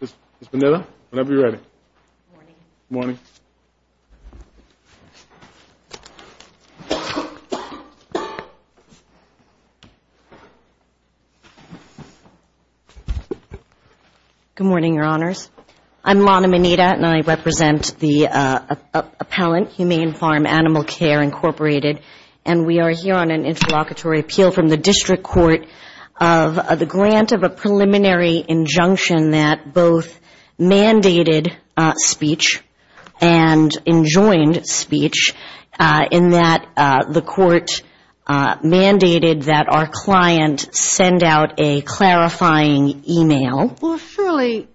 Ms. Mineta, whenever you're ready. Good morning, Your Honors. I'm Lana Mineta, and I represent the appellant, Humane Farm Animal Care, Incorporated, and we are here on an interlocutory appeal from the District Court of the grant of a preliminary injunction that both mandated speech and enjoined speech, in that the court mandated that our client send out a clarifying e-mail. Well, surely,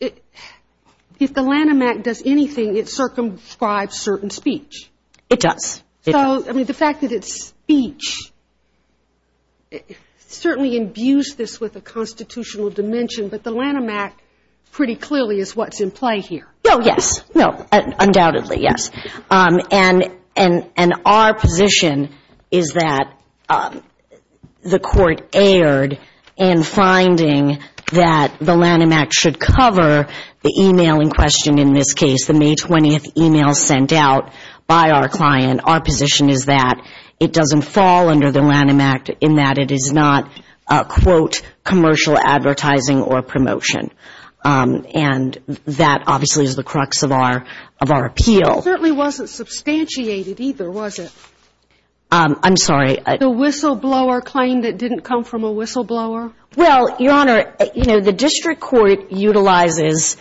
if the Lanham Act does anything, it circumscribes certain speech. It does. So, I mean, the fact that it's speech certainly imbues this with a constitutional dimension, but the Lanham Act pretty clearly is what's in play here. Oh, yes. No. Undoubtedly, yes. And our position is that the court erred in finding that the Lanham Act should cover the e-mail in question in this case, the May 20th e-mail sent out by our client. And our position is that it doesn't fall under the Lanham Act in that it is not, quote, commercial advertising or promotion. And that obviously is the crux of our appeal. It certainly wasn't substantiated either, was it? I'm sorry? The whistleblower claim that didn't come from a whistleblower? Well, Your Honor, you know, the district court utilizes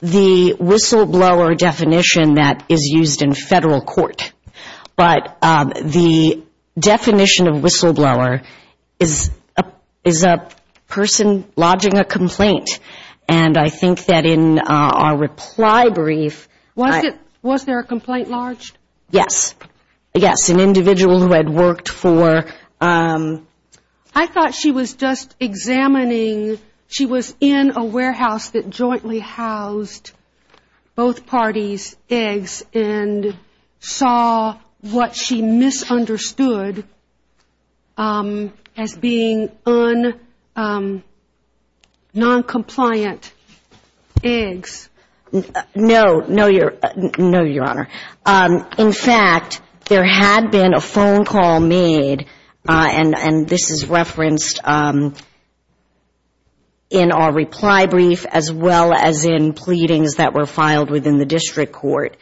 the whistleblower definition that is used in Federal court. But the definition of whistleblower is a person lodging a complaint. And I think that in our reply brief ‑‑ Was there a complaint lodged? Yes. Yes. An individual who had worked for ‑‑ I thought she was just examining. She was in a warehouse that jointly housed both parties' eggs and saw what she misunderstood as being noncompliant eggs. No. No, Your Honor. In fact, there had been a phone call made, and this is referenced in our reply brief, as well as in pleadings that were filed within the district court.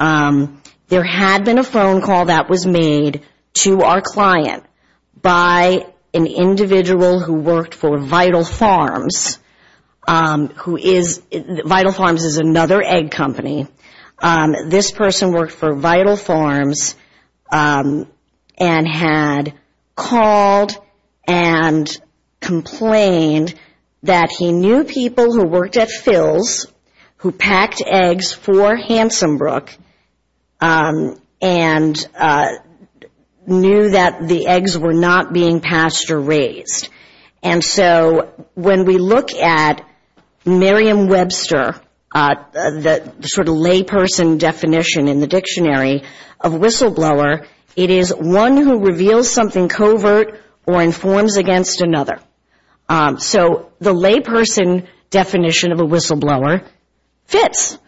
There had been a phone call that was made to our client by an individual who worked for Vital Farms, who is ‑‑ Vital Farms is another egg company. This person worked for Vital Farms and had called and complained that he knew people who worked at Phil's who packed eggs for Hansenbrook and knew that the eggs were not being pastured or raised. And so when we look at Merriam-Webster, the sort of layperson definition in the dictionary of whistleblower, it is one who reveals something covert or informs against another. So the layperson definition of a whistleblower fits.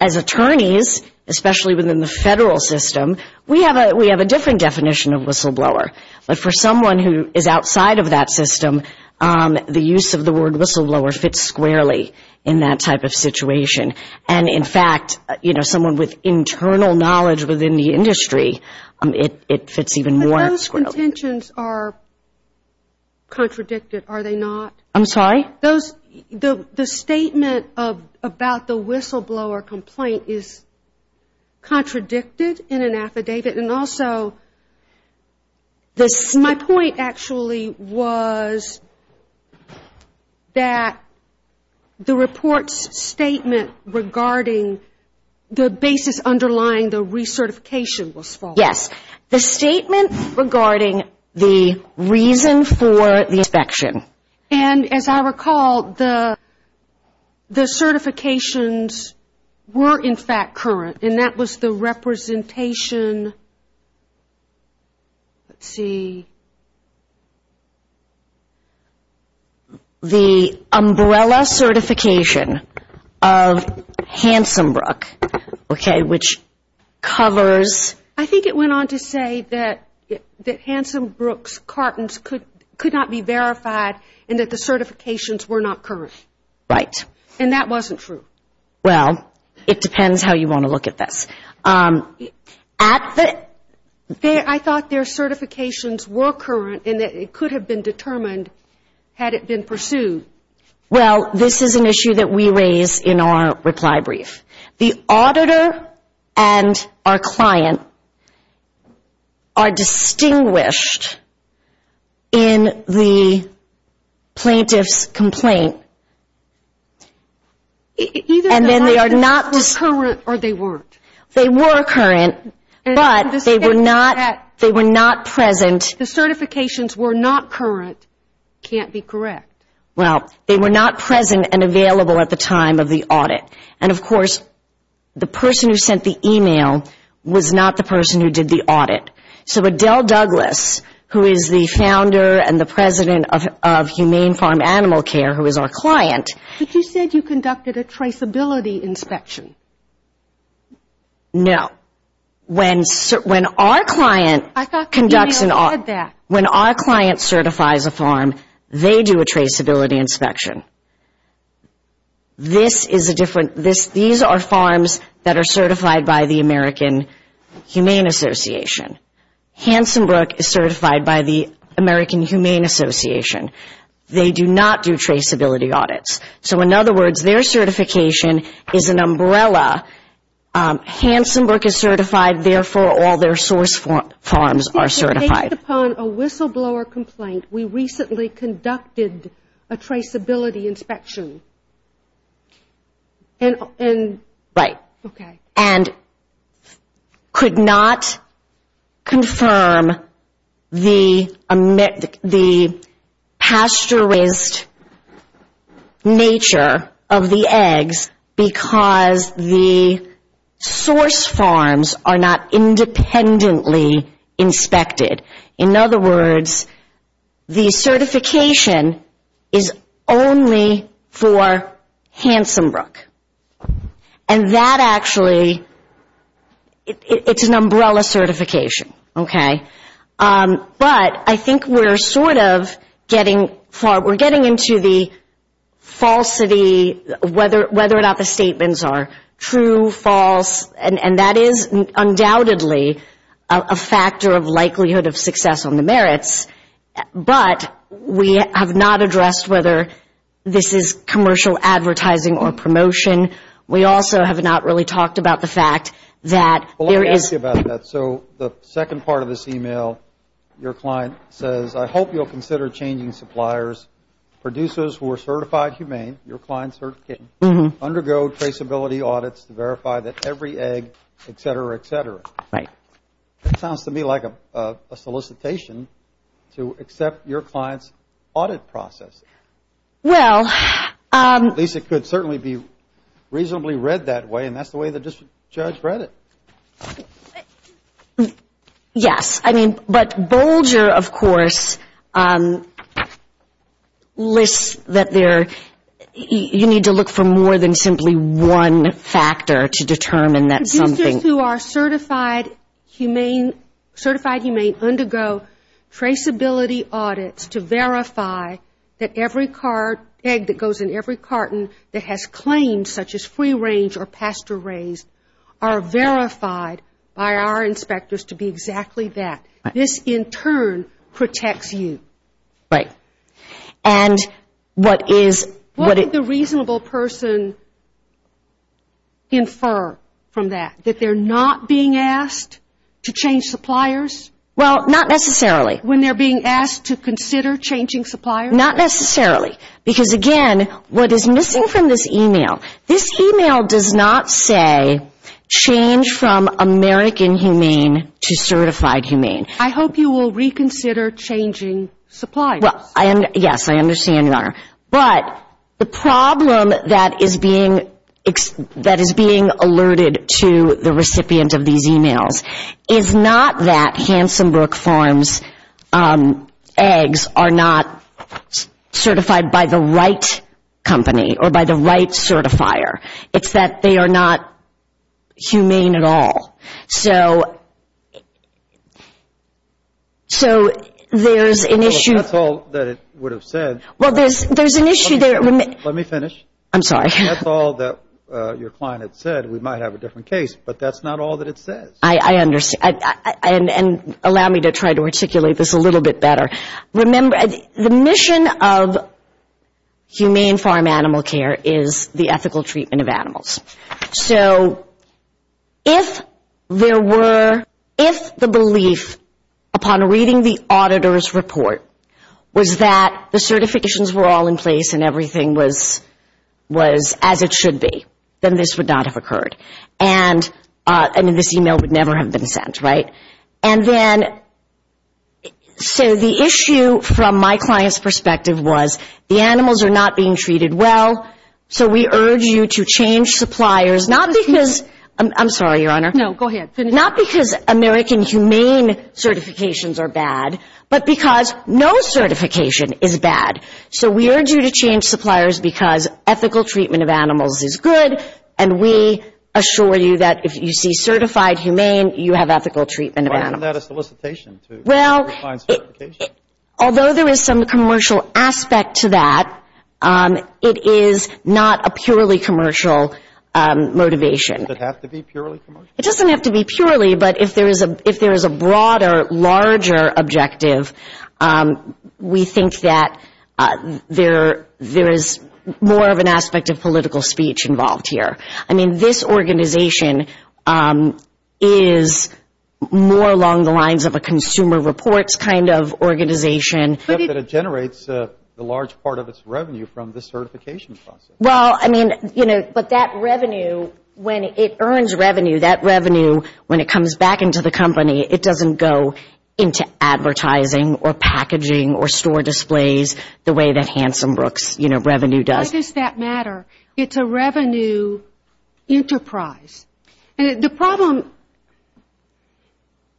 As attorneys, especially within the federal system, we have a different definition of whistleblower. But for someone who is outside of that system, the use of the word whistleblower fits squarely in that type of situation. And in fact, you know, someone with internal knowledge within the industry, it fits even more squarely. But those contentions are contradicted, are they not? I'm sorry? The statement about the whistleblower complaint is contradicted in an affidavit. And also, my point actually was that the report's statement regarding the basis underlying the recertification was false. Yes. The statement regarding the reason for the inspection. And as I recall, the certifications were in fact current, and that was the representation, let's see, the umbrella certification of Hansenbrook, okay, which covers. I think it went on to say that Hansenbrook's cartons could not be verified and that the certifications were not current. Right. And that wasn't true. Well, it depends how you want to look at this. I thought their certifications were current and that it could have been determined had it been pursued. Well, this is an issue that we raise in our reply brief. The auditor and our client are distinguished in the plaintiff's complaint. Either they were current or they weren't. They were current, but they were not present. The certifications were not current can't be correct. Well, they were not present and available at the time of the audit. And, of course, the person who sent the email was not the person who did the audit. So Adele Douglas, who is the founder and the president of Humane Farm Animal Care, who is our client. But you said you conducted a traceability inspection. No. When our client conducts an audit, when our client certifies a farm, they do a traceability inspection. These are farms that are certified by the American Humane Association. Hansenbrook is certified by the American Humane Association. They do not do traceability audits. So, in other words, their certification is an umbrella. Hansenbrook is certified. Therefore, all their source farms are certified. Based upon a whistleblower complaint, we recently conducted a traceability inspection. Right. Okay. could not confirm the pasteurized nature of the eggs because the source farms are not independently inspected. In other words, the certification is only for Hansenbrook. And that actually, it's an umbrella certification. Okay. But I think we're sort of getting far. We're getting into the falsity, whether or not the statements are true, false, and that is undoubtedly a factor of likelihood of success on the merits. But we have not addressed whether this is commercial advertising or promotion. We also have not really talked about the fact that there is – Well, let me ask you about that. So the second part of this e-mail, your client says, I hope you'll consider changing suppliers, producers who are certified humane, your client certificate, undergo traceability audits to verify that every egg, et cetera, et cetera. Right. That sounds to me like a solicitation to accept your client's audit process. Well – At least it could certainly be reasonably read that way, and that's the way the judge read it. Yes. I mean, but Bolger, of course, lists that there – you need to look for more than simply one factor to determine that something – certified humane undergo traceability audits to verify that every egg that goes in every carton that has claims such as free-range or pasture-raised are verified by our inspectors to be exactly that. This, in turn, protects you. Right. And what is – How would the reasonable person infer from that, that they're not being asked to change suppliers? Well, not necessarily. When they're being asked to consider changing suppliers? Not necessarily, because, again, what is missing from this e-mail, this e-mail does not say change from American humane to certified humane. I hope you will reconsider changing suppliers. Well, yes, I understand, Your Honor. But the problem that is being alerted to the recipient of these e-mails is not that Hansenbrook Farms eggs are not certified by the right company or by the right certifier. It's that they are not humane at all. So there's an issue – Well, that's all that it would have said. Well, there's an issue there. Let me finish. I'm sorry. That's all that your client had said. We might have a different case, but that's not all that it says. I understand. And allow me to try to articulate this a little bit better. Remember, the mission of humane farm animal care is the ethical treatment of animals. So if there were, if the belief upon reading the auditor's report was that the certifications were all in place and everything was as it should be, then this would not have occurred. And this e-mail would never have been sent, right? And then so the issue from my client's perspective was the animals are not being treated well, so we urge you to change suppliers, not because – I'm sorry, Your Honor. No, go ahead. Finish. Not because American humane certifications are bad, but because no certification is bad. So we urge you to change suppliers because ethical treatment of animals is good, and we assure you that if you see certified humane, you have ethical treatment of animals. Why isn't that a solicitation to find certification? Although there is some commercial aspect to that, it is not a purely commercial motivation. Does it have to be purely commercial? It doesn't have to be purely, but if there is a broader, larger objective, we think that there is more of an aspect of political speech involved here. I mean, this organization is more along the lines of a consumer reports kind of organization. But it generates a large part of its revenue from the certification process. Well, I mean, you know, but that revenue, when it earns revenue, that revenue when it comes back into the company, it doesn't go into advertising or packaging or store displays the way that Hansenbrook's, you know, revenue does. Why does that matter? It's a revenue enterprise. And the problem,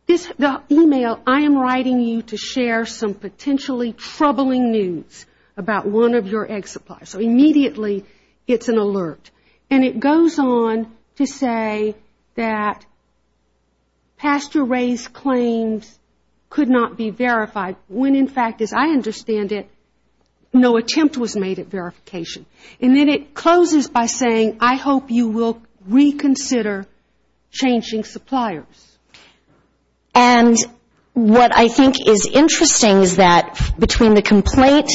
this email, I am writing you to share some potentially troubling news about one of your egg supplies. So immediately it's an alert. And it goes on to say that pasture raised claims could not be verified, when in fact, as I understand it, no attempt was made at verification. And then it closes by saying, I hope you will reconsider changing suppliers. And what I think is interesting is that between the complaint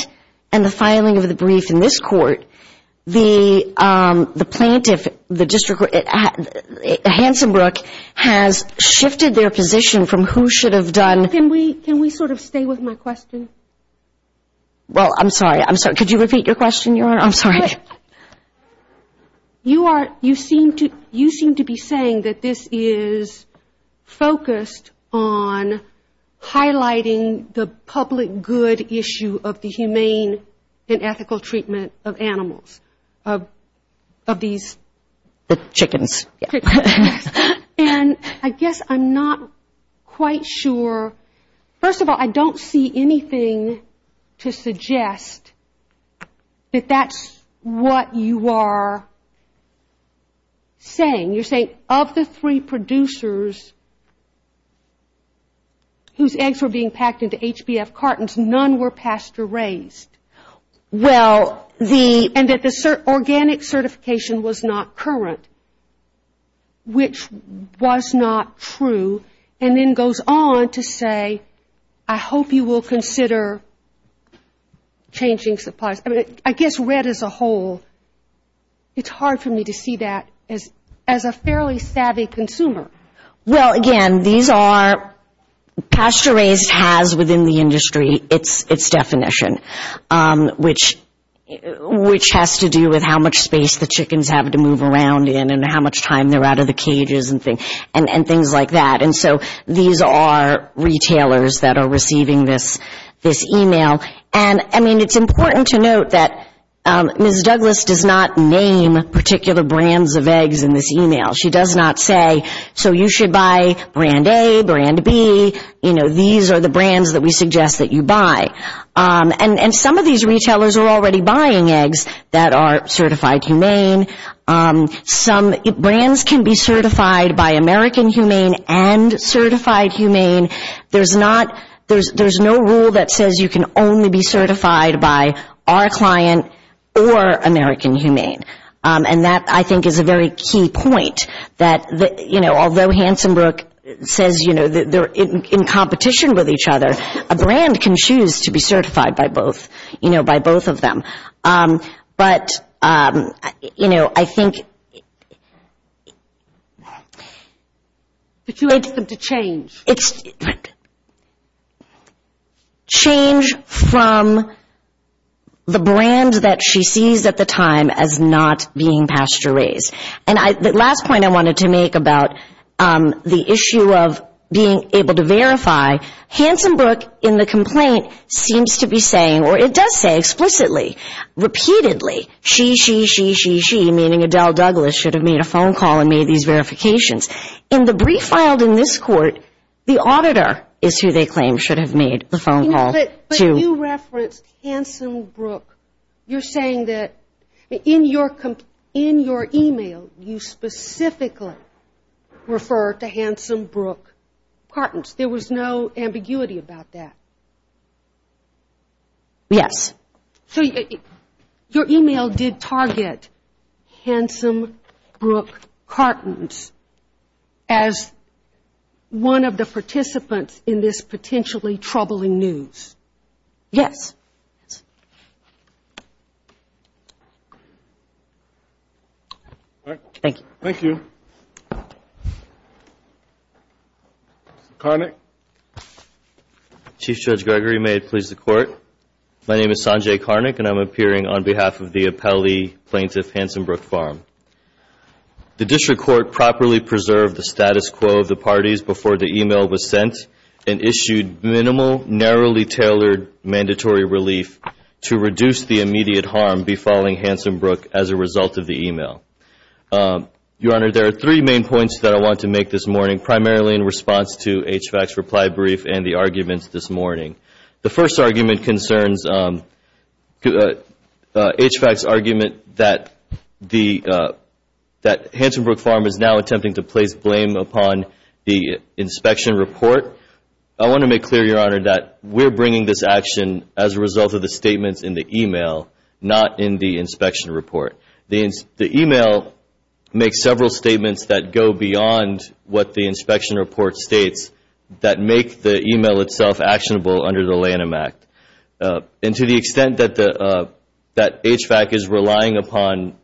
and the filing of the brief in this court, the plaintiff, the district, Hansenbrook, has shifted their position from who should have done. Can we sort of stay with my question? Well, I'm sorry. Could you repeat your question, Your Honor? I'm sorry. You seem to be saying that this is focused on highlighting the public good issue of the humane and ethical treatment of animals. Of these. Chickens. And I guess I'm not quite sure, first of all, I don't see anything to suggest that that's what you are saying. You're saying of the three producers whose eggs were being packed into HBF cartons, none were pasture raised. Well, the, and that the organic certification was not current, which was not true, and then goes on to say, I hope you will consider changing suppliers. I mean, I guess Red as a whole, it's hard for me to see that as a fairly savvy consumer. Well, again, these are, pasture raised has within the industry its definition. Which has to do with how much space the chickens have to move around in and how much time they're out of the cages and things like that. And so these are retailers that are receiving this email. And I mean, it's important to note that Ms. Douglas does not name particular brands of eggs in this email. She does not say, so you should buy brand A, brand B, you know, these are the brands that we suggest that you buy. And some of these retailers are already buying eggs that are certified humane. Some brands can be certified by American humane and certified humane. There's not, there's no rule that says you can only be certified by our client or American humane. And that, I think, is a very key point. That, you know, although Hansenbrook says, you know, they're in competition with each other, a brand can choose to be certified by both, you know, by both of them. But, you know, I think. But you want them to change. Change from the brand that she sees at the time as not being pasture raised. And the last point I wanted to make about the issue of being able to verify, Hansenbrook in the complaint seems to be saying, or it does say explicitly, repeatedly, she, she, she, she, she, meaning Adele Douglas should have made a phone call and made these verifications. In the brief filed in this court, the auditor is who they claim should have made the phone call to. But you referenced Hansenbrook. You're saying that in your, in your email, you specifically refer to Hansenbrook Cartons. There was no ambiguity about that. Yes. So your email did target Hansenbrook Cartons as one of the participants in this potentially troubling news. Yes. Thank you. Chief Judge Gregory, may it please the Court. My name is Sanjay Karnick, and I'm appearing on behalf of the appellee plaintiff, Hansenbrook Farm. The district court properly preserved the status quo of the parties before the email was sent and issued minimal, narrowly tailored mandatory relief to reduce the immediate harm befalling Hansenbrook as a result of the email. Your Honor, there are three main points that I want to make this morning, primarily in response to HVAC's reply brief and the arguments this morning. The first argument concerns HVAC's argument that the, that Hansenbrook Farm is now attempting to place blame upon the inspection report. I want to make clear, Your Honor, that we're bringing this action as a result of the statements in the email, not in the inspection report. The email makes several statements that go beyond what the inspection report states that make the email itself actionable under the Lanham Act. And to the extent that the, that HVAC is relying upon,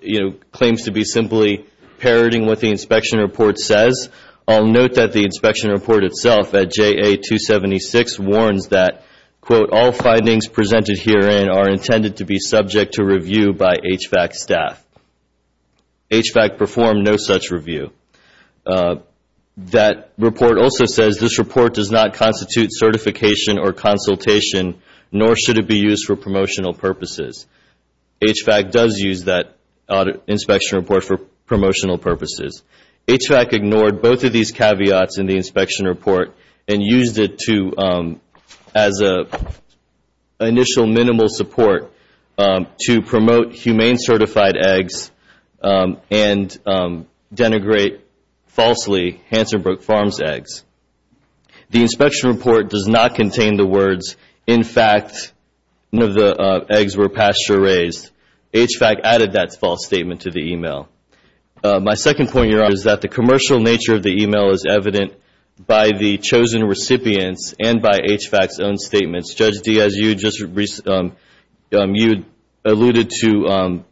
you know, claims to be simply parroting what the inspection report says, I'll note that the inspection report itself at JA 276 warns that, quote, all findings presented herein are intended to be subject to review by HVAC staff. HVAC performed no such review. That report also says this report does not constitute certification or consultation, nor should it be used for promotional purposes. HVAC does use that inspection report for promotional purposes. HVAC ignored both of these caveats in the inspection report and used it to, as an initial minimal support to promote humane certified eggs and denigrate falsely Hansenbrook Farms eggs. The inspection report does not contain the words, in fact, none of the eggs were pasture raised. HVAC added that false statement to the email. My second point here is that the commercial nature of the email is evident by the chosen recipients and by HVAC's own statements. Judge D, as you just, you alluded to,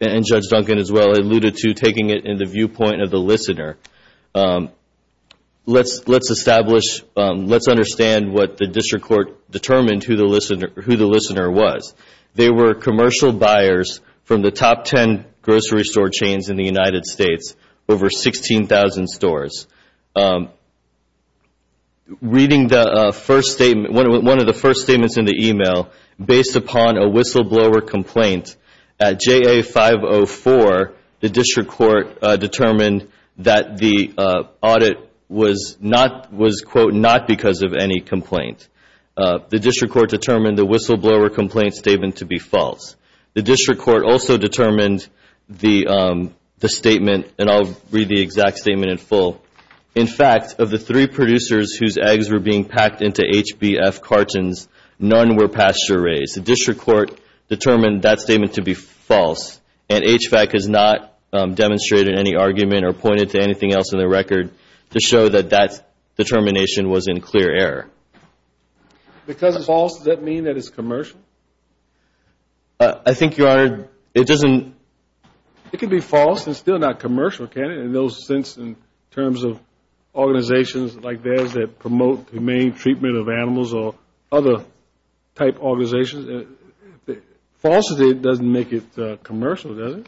and Judge Duncan as well, alluded to taking it in the viewpoint of the listener. Let's establish, let's understand what the district court determined who the listener was. They were commercial buyers from the top 10 grocery store chains in the United States, over 16,000 stores. Reading the first statement, one of the first statements in the email, based upon a whistleblower complaint at JA 504, the district court determined that the audit was, quote, not because of any complaint. The district court determined the whistleblower complaint statement to be false. The district court also determined the statement, and I'll read the exact statement in full. In fact, of the three producers whose eggs were being packed into HBF cartons, none were pasture raised. The district court determined that statement to be false and HVAC has not demonstrated any argument or pointed to anything else in the record to show that that determination was in clear error. Because it's false, does that mean that it's commercial? I think, Your Honor, it doesn't. It could be false and still not commercial, can it, in those sense, in terms of organizations like theirs that promote humane treatment of animals or other type organizations? Falsity doesn't make it commercial, does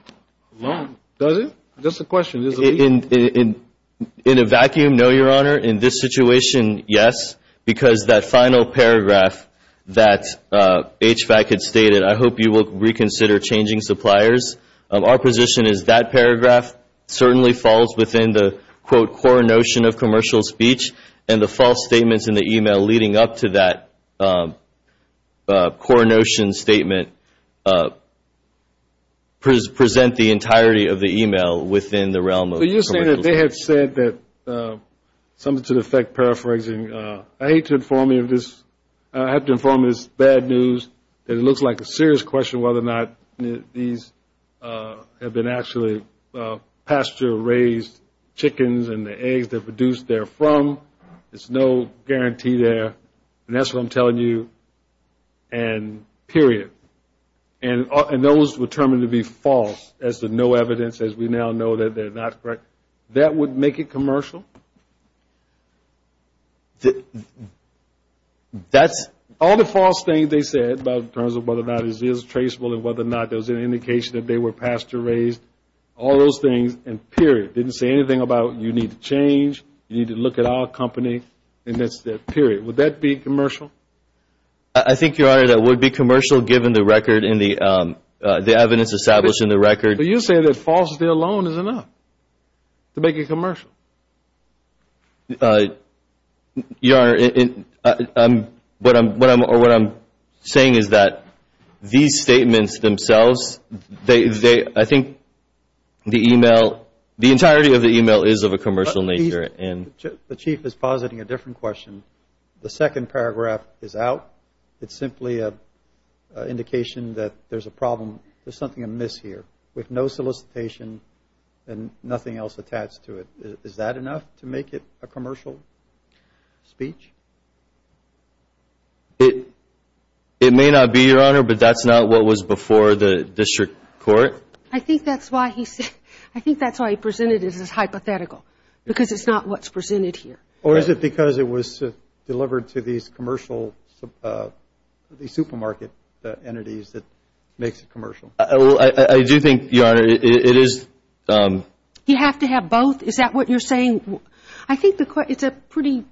it? Just a question. In a vacuum, no, Your Honor. In this situation, yes, because that final paragraph that HVAC had stated, I hope you will reconsider changing suppliers. Our position is that paragraph certainly falls within the, quote, core notion of commercial speech, and the false statements in the e-mail leading up to that core notion statement present the entirety of the e-mail within the realm of commercial speech. But you're saying that they have said that, something to the effect of paraphrasing, I hate to inform you of this, I have to inform you of this bad news, that it looks like a serious question whether or not these have been actually pasture-raised chickens and the eggs they're produced there from. There's no guarantee there. And that's what I'm telling you, period. And those were termed to be false, as to no evidence, as we now know that they're not correct. That would make it commercial? That's... All the false things they said in terms of whether or not it is traceable and whether or not there was any indication that they were pasture-raised, all those things, and period, didn't say anything about you need to change, you need to look at our company, and that's it, period. Would that be commercial? I think, Your Honor, that would be commercial given the record and the evidence established in the record. But you say that falsity alone is enough to make it commercial. Your Honor, what I'm saying is that these statements themselves, I think the e-mail, the entirety of the e-mail is of a commercial nature. The Chief is positing a different question. The second paragraph is out. It's simply an indication that there's a problem, there's something amiss here with no solicitation and nothing else attached to it. Is that enough to make it a commercial speech? It may not be, Your Honor, but that's not what was before the District Court. I think that's why he said, I think that's why he presented it as hypothetical, because it's not what's presented here. Or is it because it was delivered to these commercial, these supermarket entities that makes it commercial? I do think, Your Honor, it is. You have to have both? Is that what you're saying? I think it's a pretty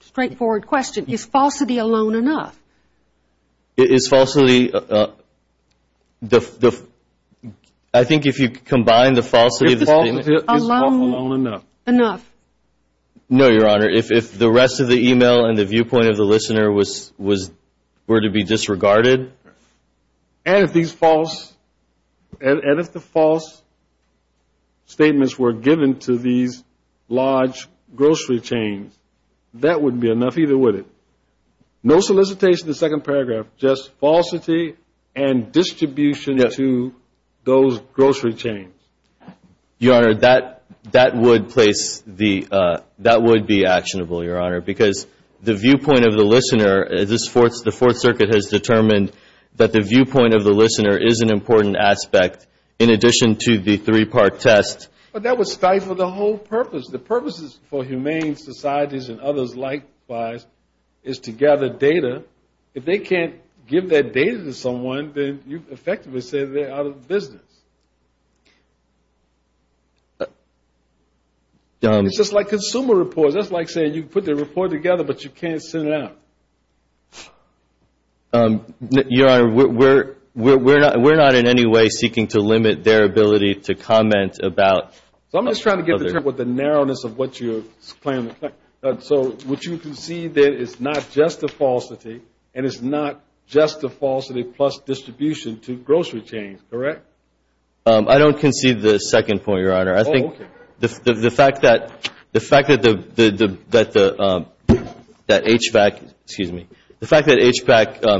straightforward question. Is falsity alone enough? I think if you combine the falsity of the statement. No, Your Honor. If the rest of the e-mail and the viewpoint of the listener were to be disregarded. And if the false statements were given to these large grocery chains, that wouldn't be enough either, would it? No solicitation in the second paragraph, just falsity and distribution to those grocery chains. Your Honor, that would be actionable, Your Honor, because the viewpoint of the listener, the Fourth Circuit has determined that the viewpoint of the listener is an important aspect in addition to the three-part test. But that would stifle the whole purpose. The purpose for humane societies and others likewise is to gather data. If they can't give that data to someone, then you effectively say they're out of business. It's just like consumer reports. That's like saying you can put the report together, but you can't send it out. Your Honor, we're not in any way seeking to limit their ability to comment about... I'm just trying to get the term with the narrowness of what you're claiming. So would you concede that it's not just a falsity, and it's not just a falsity plus distribution to grocery chains, correct? I don't concede the second point, Your Honor. I think the fact that HVAC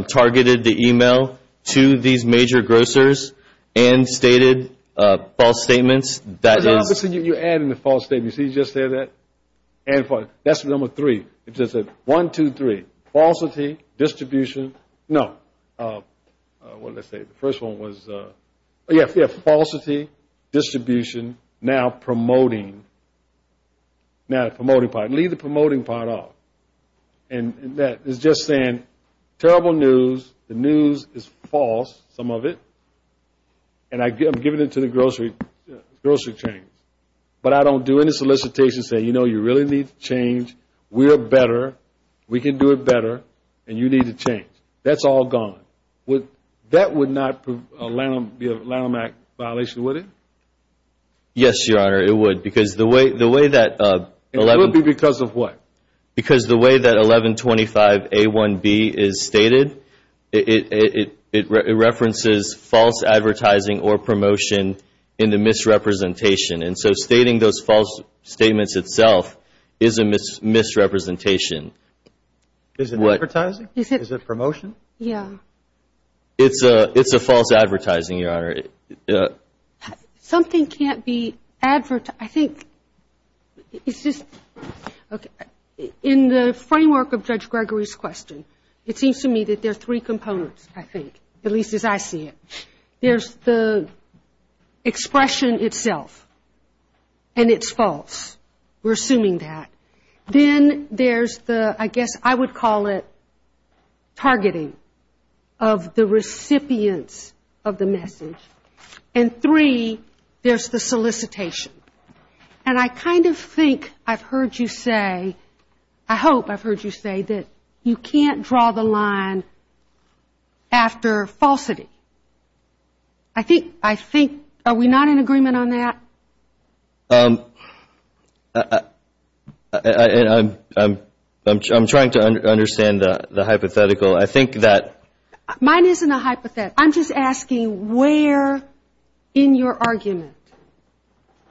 targeted the email to these major grocers and stated false statements, that is... You're adding the false statements. That's number three. One, two, three. Falsity, distribution, now promoting. Leave the promoting part off. It's just saying terrible news, the news is false, some of it, and I'm giving it to the grocery chains. But I don't do any solicitation saying, you know, you really need to change. We're better, we can do it better, and you need to change. That's all gone. That would not be a Lanham Act violation, would it? Yes, Your Honor, it would. It would be because of what? Because the way that 1125A1B is stated, it references false advertising or promotion in the misrepresentation. And so stating those false statements itself is a misrepresentation. Is it advertising? Is it promotion? It's a false advertising, Your Honor. Something can't be advertised. In the framework of Judge Gregory's question, it seems to me that there are three components, I think, at least as I see it. There's the expression itself, and it's false. We're assuming that. Then there's the, I guess I would call it targeting of the recipients of the message. And three, there's the solicitation. And I kind of think I've heard you say, I hope I've heard you say, that you can't draw the line after falsity. I think, are we not in agreement on that? I'm trying to understand the hypothetical. Mine isn't a hypothetical. I'm just asking where in your argument,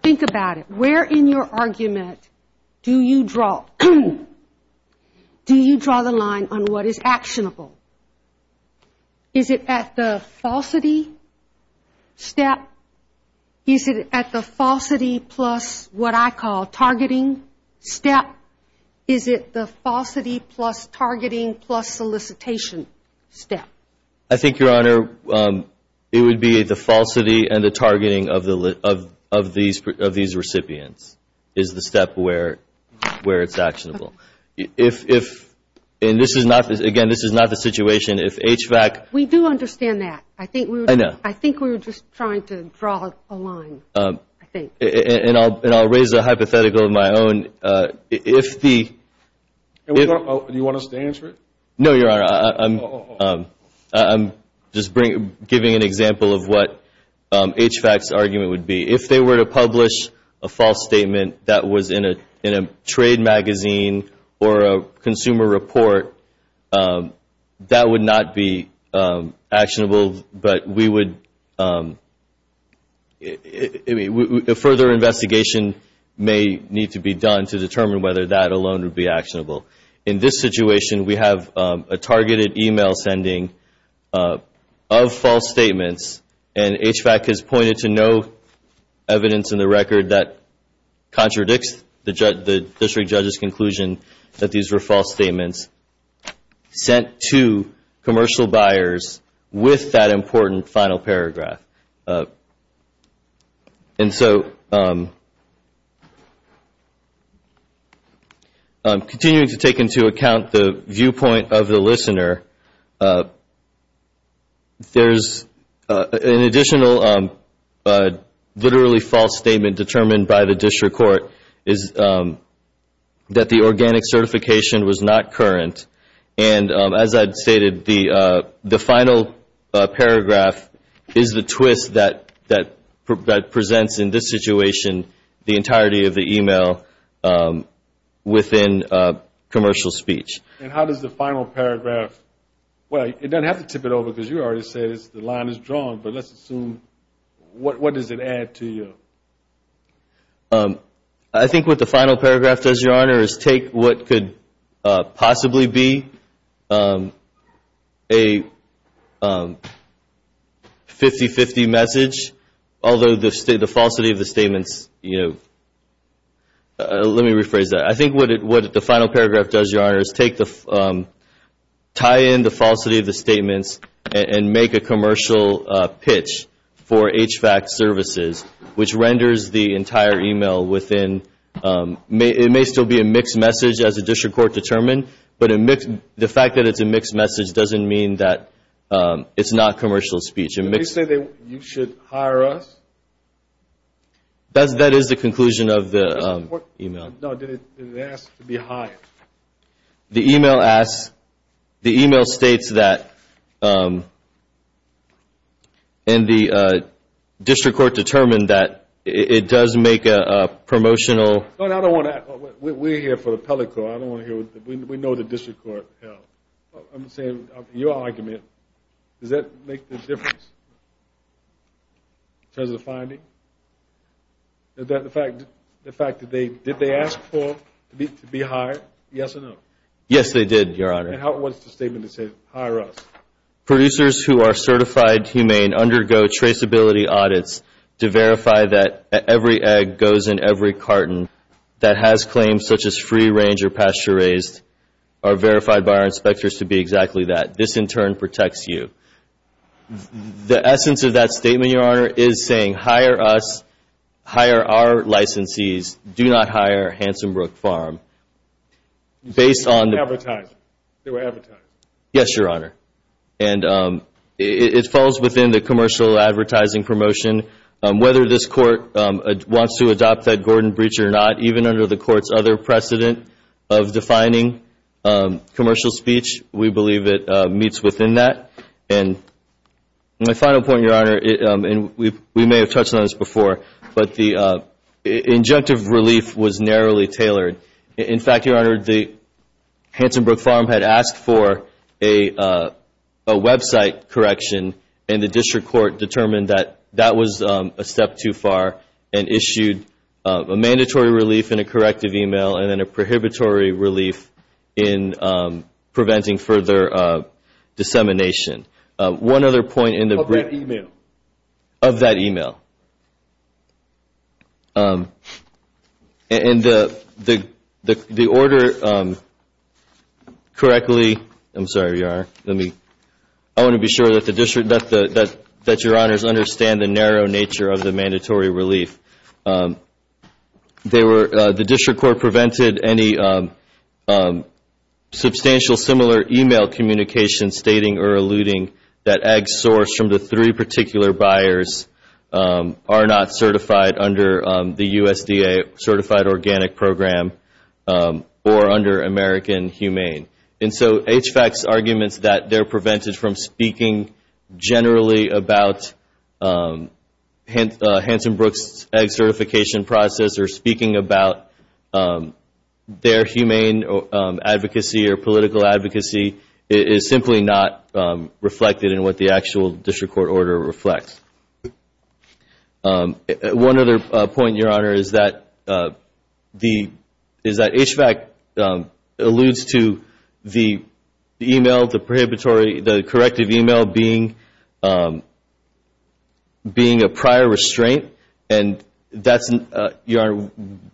think about it, where in your argument do you draw the line on what is actionable? Is it at the falsity step? Is it at the falsity plus what I call targeting step? Is it the falsity plus targeting plus solicitation step? I think, Your Honor, it would be the falsity and the targeting of these recipients is the step where it's actionable. And again, this is not the situation. We do understand that. I think we were just trying to draw a line, I think. And I'll raise a hypothetical of my own. Do you want us to answer it? No, Your Honor, I'm just giving an example of what HVAC's argument would be. If they were to publish a false statement that was in a trade magazine or a consumer report, that would not be actionable. A further investigation may need to be done to determine whether that alone would be actionable. In this situation, we have a targeted e-mail sending of false statements, and HVAC has pointed to no evidence in the record that contradicts the district judge's conclusion that these were false statements sent to commercial buyers with that important final paragraph. Continuing to take into account the viewpoint of the listener, there's an additional literally false statement determined by the district court that the organic certification was not current. And as I'd stated, the final paragraph is the twist that presents in this situation the entirety of the e-mail within commercial speech. And how does the final paragraph – well, it doesn't have to tip it over because you already said the line is drawn, but let's assume – what does it add to you? I think what the final paragraph does, Your Honor, is take what could possibly be a 50-50 message, although the falsity of the statements – let me rephrase that. I think what the final paragraph does, Your Honor, is tie in the falsity of the statements and make a commercial pitch for HVAC services, which renders the entire e-mail within – it may still be a mixed message as the district court determined, but the fact that it's a mixed message doesn't mean that it's not commercial speech. Did they say that you should hire us? That is the conclusion of the e-mail. No, did it ask to be hired? The e-mail asks – the e-mail states that – and the district court determined that it does make a promotional – No, I don't want to – we're here for the appellate court. I don't want to hear – we know the district court. I'm saying your argument, does that make a difference in terms of the finding? The fact that they – did they ask for – to be hired? Yes or no? Yes, they did, Your Honor. And how – what's the statement that says, hire us? Based on the – Yes, Your Honor, and it falls within the commercial advertising promotion. Whether this court wants to adopt that Gordon breach or not, even under the court's other precedent of defining commercial speech, we believe it meets within that. And my final point, Your Honor, and we may have touched on this before, but the injunctive relief was narrowly tailored. In fact, Your Honor, the Hansenbrook Farm had asked for a website correction, and the district court determined that that was a step too far and issued a mandatory relief in a corrective e-mail and then a prohibitory relief in preventing further dissemination. One other point in the – Of that e-mail. And the order correctly – I'm sorry, Your Honor. Let me – I want to be sure that the district – that Your Honors understand the narrow nature of the mandatory relief. The district court prevented any substantial similar e-mail communication stating or alluding that ag source from the three particular buyers are not certified under the USDA certified organic program or under American Humane. And so HVAC's arguments that they're prevented from speaking generally about Hansenbrook's ag certification process or speaking about their humane advocacy or political advocacy is simply not reflected in what the actual district court order reflects. One other point, Your Honor, is that HVAC alludes to the e-mail, the prohibitory – the corrective e-mail being a prior restriction and that's – Your Honor,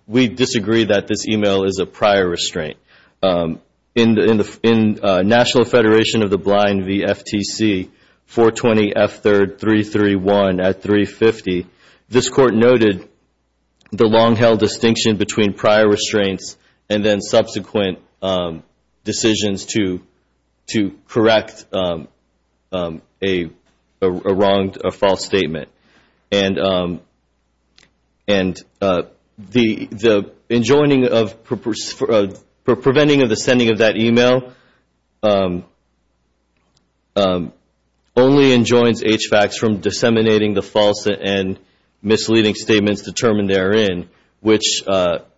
we disagree that this e-mail is a prior restraint. In National Federation of the Blind VFTC 420F3331 at 350, this court noted the long-held distinction between prior restraints and then subsequent decisions to correct a wrong – a false statement. And the enjoining of – preventing of the sending of that e-mail only enjoins HVACs from disseminating the false and misleading statements determined therein, which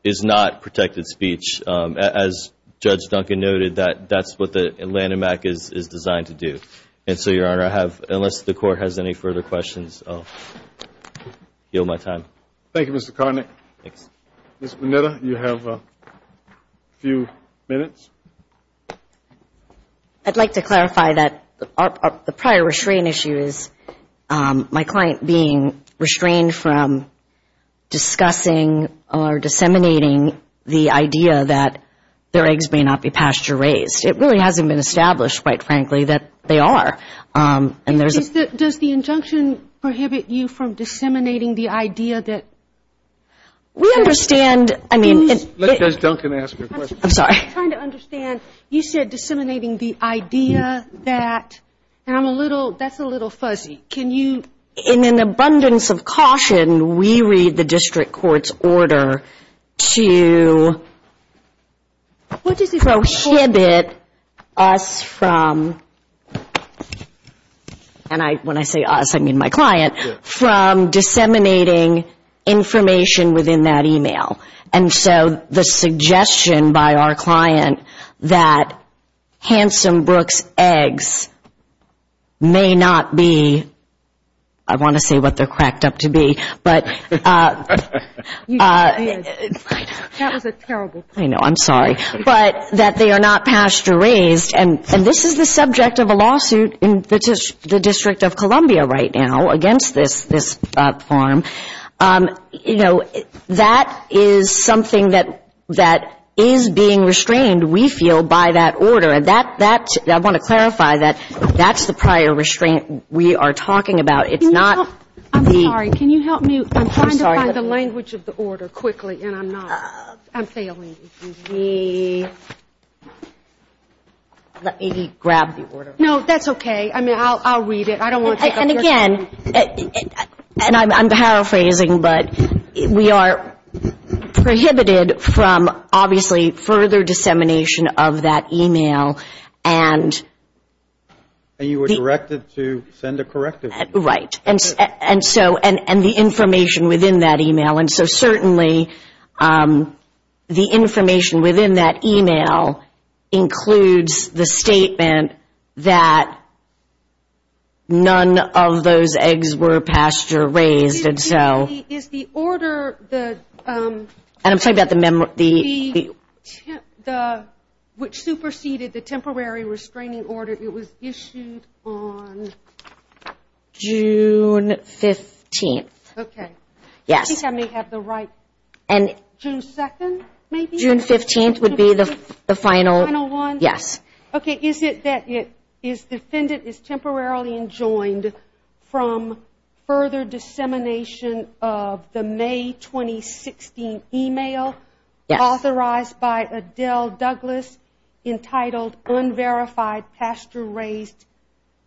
is not protected speech. As Judge Duncan noted, that's what the Lanham Act is designed to do. And so, Your Honor, I have – unless the court has any further questions, I'll yield my time. Thank you, Mr. Carnick. Ms. Bonita, you have a few minutes. I'd like to clarify that the prior restraint issue is my client being restrained from discussing or disseminating the idea that their eggs may not be pasture raised. It really hasn't been established, quite frankly, that they are. Does the injunction prohibit you from disseminating the idea that – We understand – I mean – Let Judge Duncan ask her question. I'm trying to understand. You said disseminating the idea that – and I'm a little – that's a little fuzzy. Can you – In an abundance of caution, we read the district court's order to prohibit us from – and when I say us, I mean my client – from disseminating information within that e-mail. And so the suggestion by our client that Handsome Brooks eggs may not be – I want to say what they're cracked up to be, but – that they are not pasture raised, and this is the subject of a lawsuit in the District of Columbia right now against this farm. You know, that is something that is being restrained, we feel, by that order. And that – I want to clarify that that's the prior restraint we are talking about. It's not the – I'm sorry. Can you help me? I'm trying to find the language of the order quickly, and I'm not. I'm failing. Let me grab the order. No, that's okay. I mean, I'll read it. I don't want to take up your time. And again – and I'm paraphrasing, but we are prohibited from, obviously, further dissemination of that e-mail, and – the information within that e-mail includes the statement that none of those eggs were pasture raised, and so – Is the order the – which superseded the temporary restraining order, it was issued on June 15th. Okay. I think I may have the right – June 2nd, maybe? June 15th would be the final – yes. Okay. Is it that it is – defendant is temporarily enjoined from further dissemination of the May 2016 e-mail authorized by Adele Douglas entitled Unverified Pasture Raised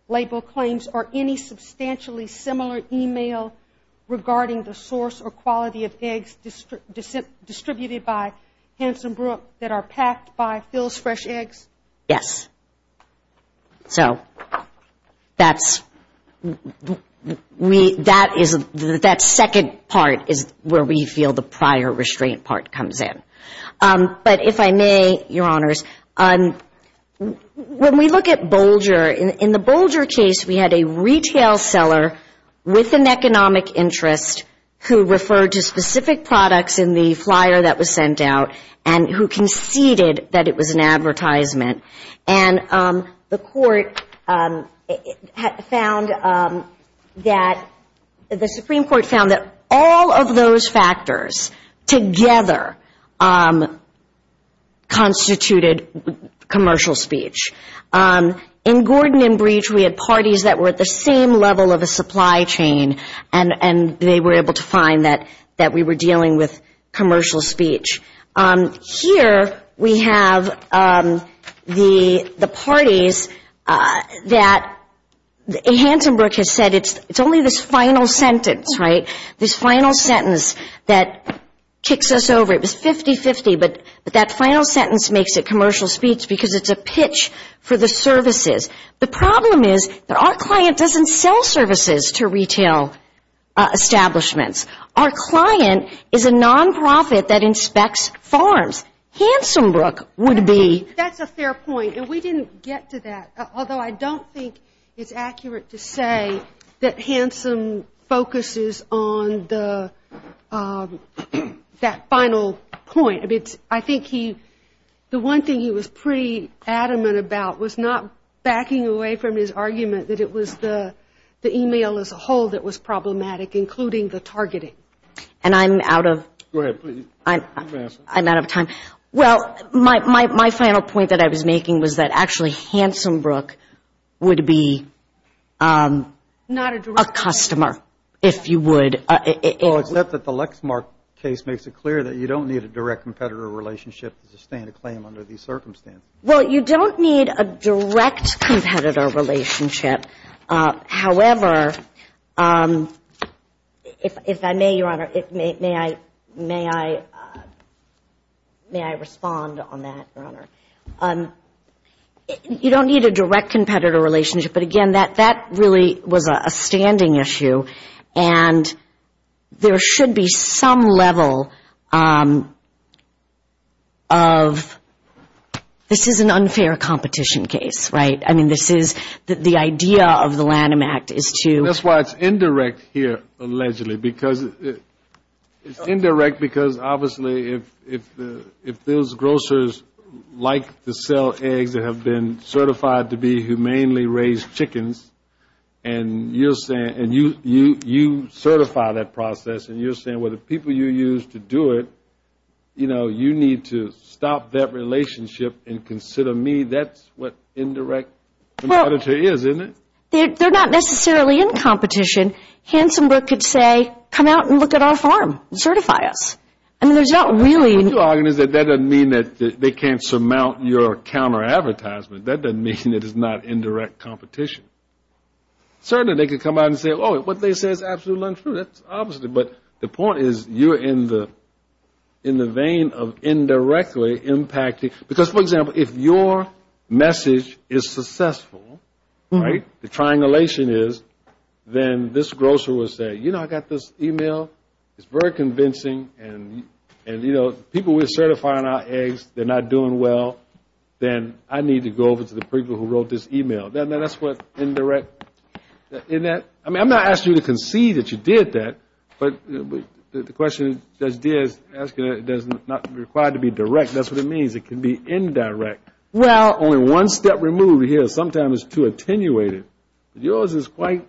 Label Claims, or any substantially similar e-mail regarding the source or quality of eggs distributed by Hansen Brook that are packed by Phil's Fresh Eggs? Yes. So that's – we – that is – that second part is where we feel the prior restraint part comes in. But if I may, Your Honors, when we look at Bolger, in the Bolger case, we had a retail seller with an economic interest who referred to specific products in the flyer that was sent out, and who conceded that it was an advertisement. And the court found that – the Supreme Court found that all of those factors together constituted commercial speech. In Gordon and Breach, we had parties that were at the same level of a supply chain, and they were able to find that we were dealing with commercial speech. Here we have the parties that – Hansen Brook has said it's only this final sentence, right, this final sentence that kicks us over. It was 50-50, but that final sentence makes it commercial speech because it's a pitch for the services. The problem is that our client doesn't sell services to retail establishments. Our client is a nonprofit that inspects farms. Hansen Brook would be – That's a fair point, and we didn't get to that, although I don't think it's accurate to say that Hansen focuses on that final point. I think he – the one thing he was pretty adamant about was not backing away from his argument that it was the e-mail as a whole that was problematic, including the targeting. And I'm out of time. Well, my final point that I was making was that actually Hansen Brook would be a customer, if you would. Well, except that the Lexmark case makes it clear that you don't need a direct competitor relationship to sustain a claim under these circumstances. Well, you don't need a direct competitor relationship. However, if I may, Your Honor, may I respond on that, Your Honor? You don't need a direct competitor relationship, but again, that really was a standing issue. And there should be some level of – this is an unfair competition case, right? I mean, this is – the idea of the Lanham Act is to – That's why it's indirect here, allegedly, because – it's indirect because obviously if those grocers like to sell eggs that have been certified to be humanely raised chickens, and you're saying – and you're saying you certify that process, and you're saying, well, the people you use to do it, you know, you need to stop that relationship and consider me. That's what indirect competitor is, isn't it? They're not necessarily in competition. Hansen Brook could say, come out and look at our farm and certify us. That doesn't mean that they can't surmount your counter-advertisement. That doesn't mean it is not indirect competition. Certainly, they could come out and say, oh, what they say is absolutely untrue. That's obviously – but the point is you're in the vein of indirectly impacting – because, for example, if your message is successful, right, the triangulation is, then this grocer will say, you know, I got this e-mail, it's very convincing, and, you know, people were certifying our eggs, they're not doing well, then I need to go over to the people who wrote this e-mail. That's what indirect – in that – I mean, I'm not asking you to concede that you did that, but the question is, does not require to be direct. That's what it means. It can be indirect. Yours is quite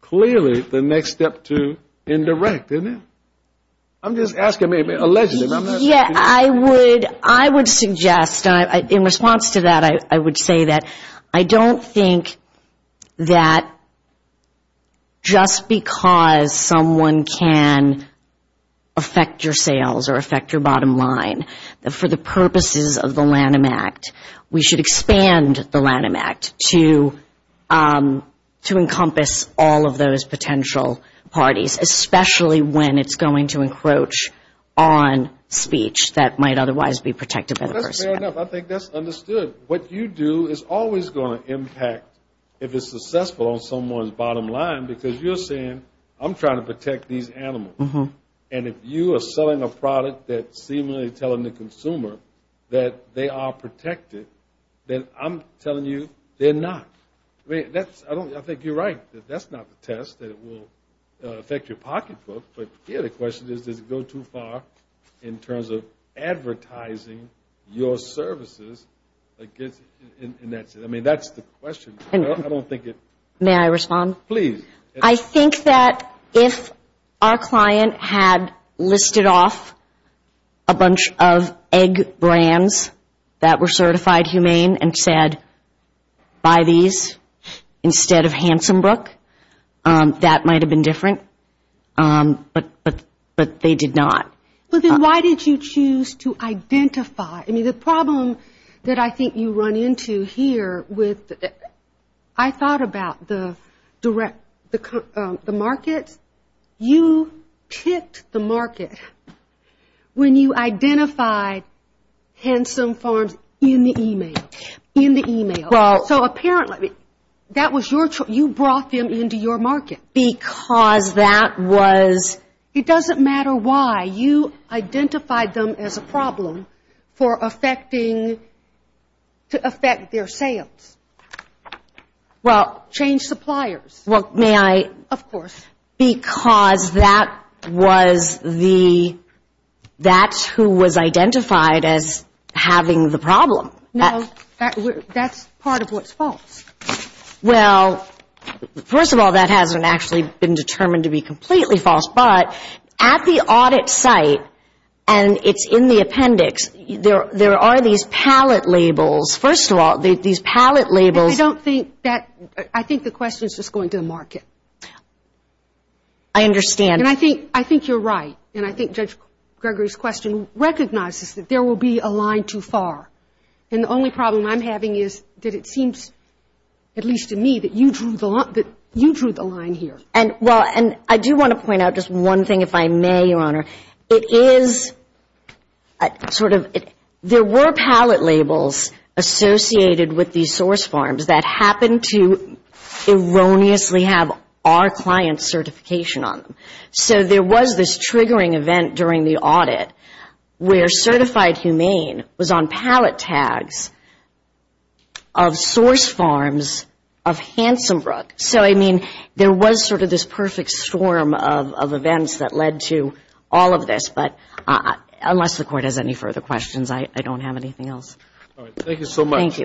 clearly the next step to indirect, isn't it? I'm just asking – I would suggest, in response to that, I would say that I don't think that just because someone can affect your sales or affect your bottom line, that for the purposes of the Lanham Act, we should expand the Lanham Act to encompass all of those potential parties, especially when it's going to encroach on speech that might otherwise be protected by the First Amendment. Fair enough. I think that's understood. What you do is always going to impact, if it's successful, on someone's bottom line, because you're saying, I'm trying to protect these animals, and if you are selling a product that's seemingly telling the consumer that they are protected, then I'm telling you they're not. I think you're right that that's not the test, that it will affect your pocketbook, but here the question is, does it go too far in terms of advertising your services against – I mean, that's the question. I don't think it – May I respond? Please. I think that if our client had listed off a bunch of egg brands that were certified humane and said, buy these, instead of Hansenbrook, that might have been different, but they did not. Well, then why did you choose to identify – I mean, the problem that I think you run into here with – I thought about the direct – the markets. You ticked the market when you identified Hansen Farms in the e-mail. In the e-mail. So apparently that was your – you brought them into your market. Because that was – It doesn't matter why. You identified them as a problem for affecting – to affect their sales. Well – Change suppliers. Well, may I – Of course. Because that was the – that's who was identified as having the problem. No, that's part of what's false. Well, first of all, that hasn't actually been determined to be completely false, but at the audit site, and it's in the appendix, there are these pallet labels. First of all, these pallet labels – I don't think that – I think the question is just going to the market. I understand. And I think you're right, and I think Judge Gregory's question recognizes that there will be a line too far. And the only problem I'm having is that it seems, at least to me, that you drew the line here. Well, and I do want to point out just one thing, if I may, Your Honor. It is sort of – there were pallet labels associated with these source farms that happened to erroneously have our client's certification on them. So there was this triggering event during the audit where certified humane was on pallet tags of source farms of Hansenbrook. So, I mean, there was sort of this perfect storm of events that led to all of this. But unless the Court has any further questions, I don't have anything else. All right. Thank you so much.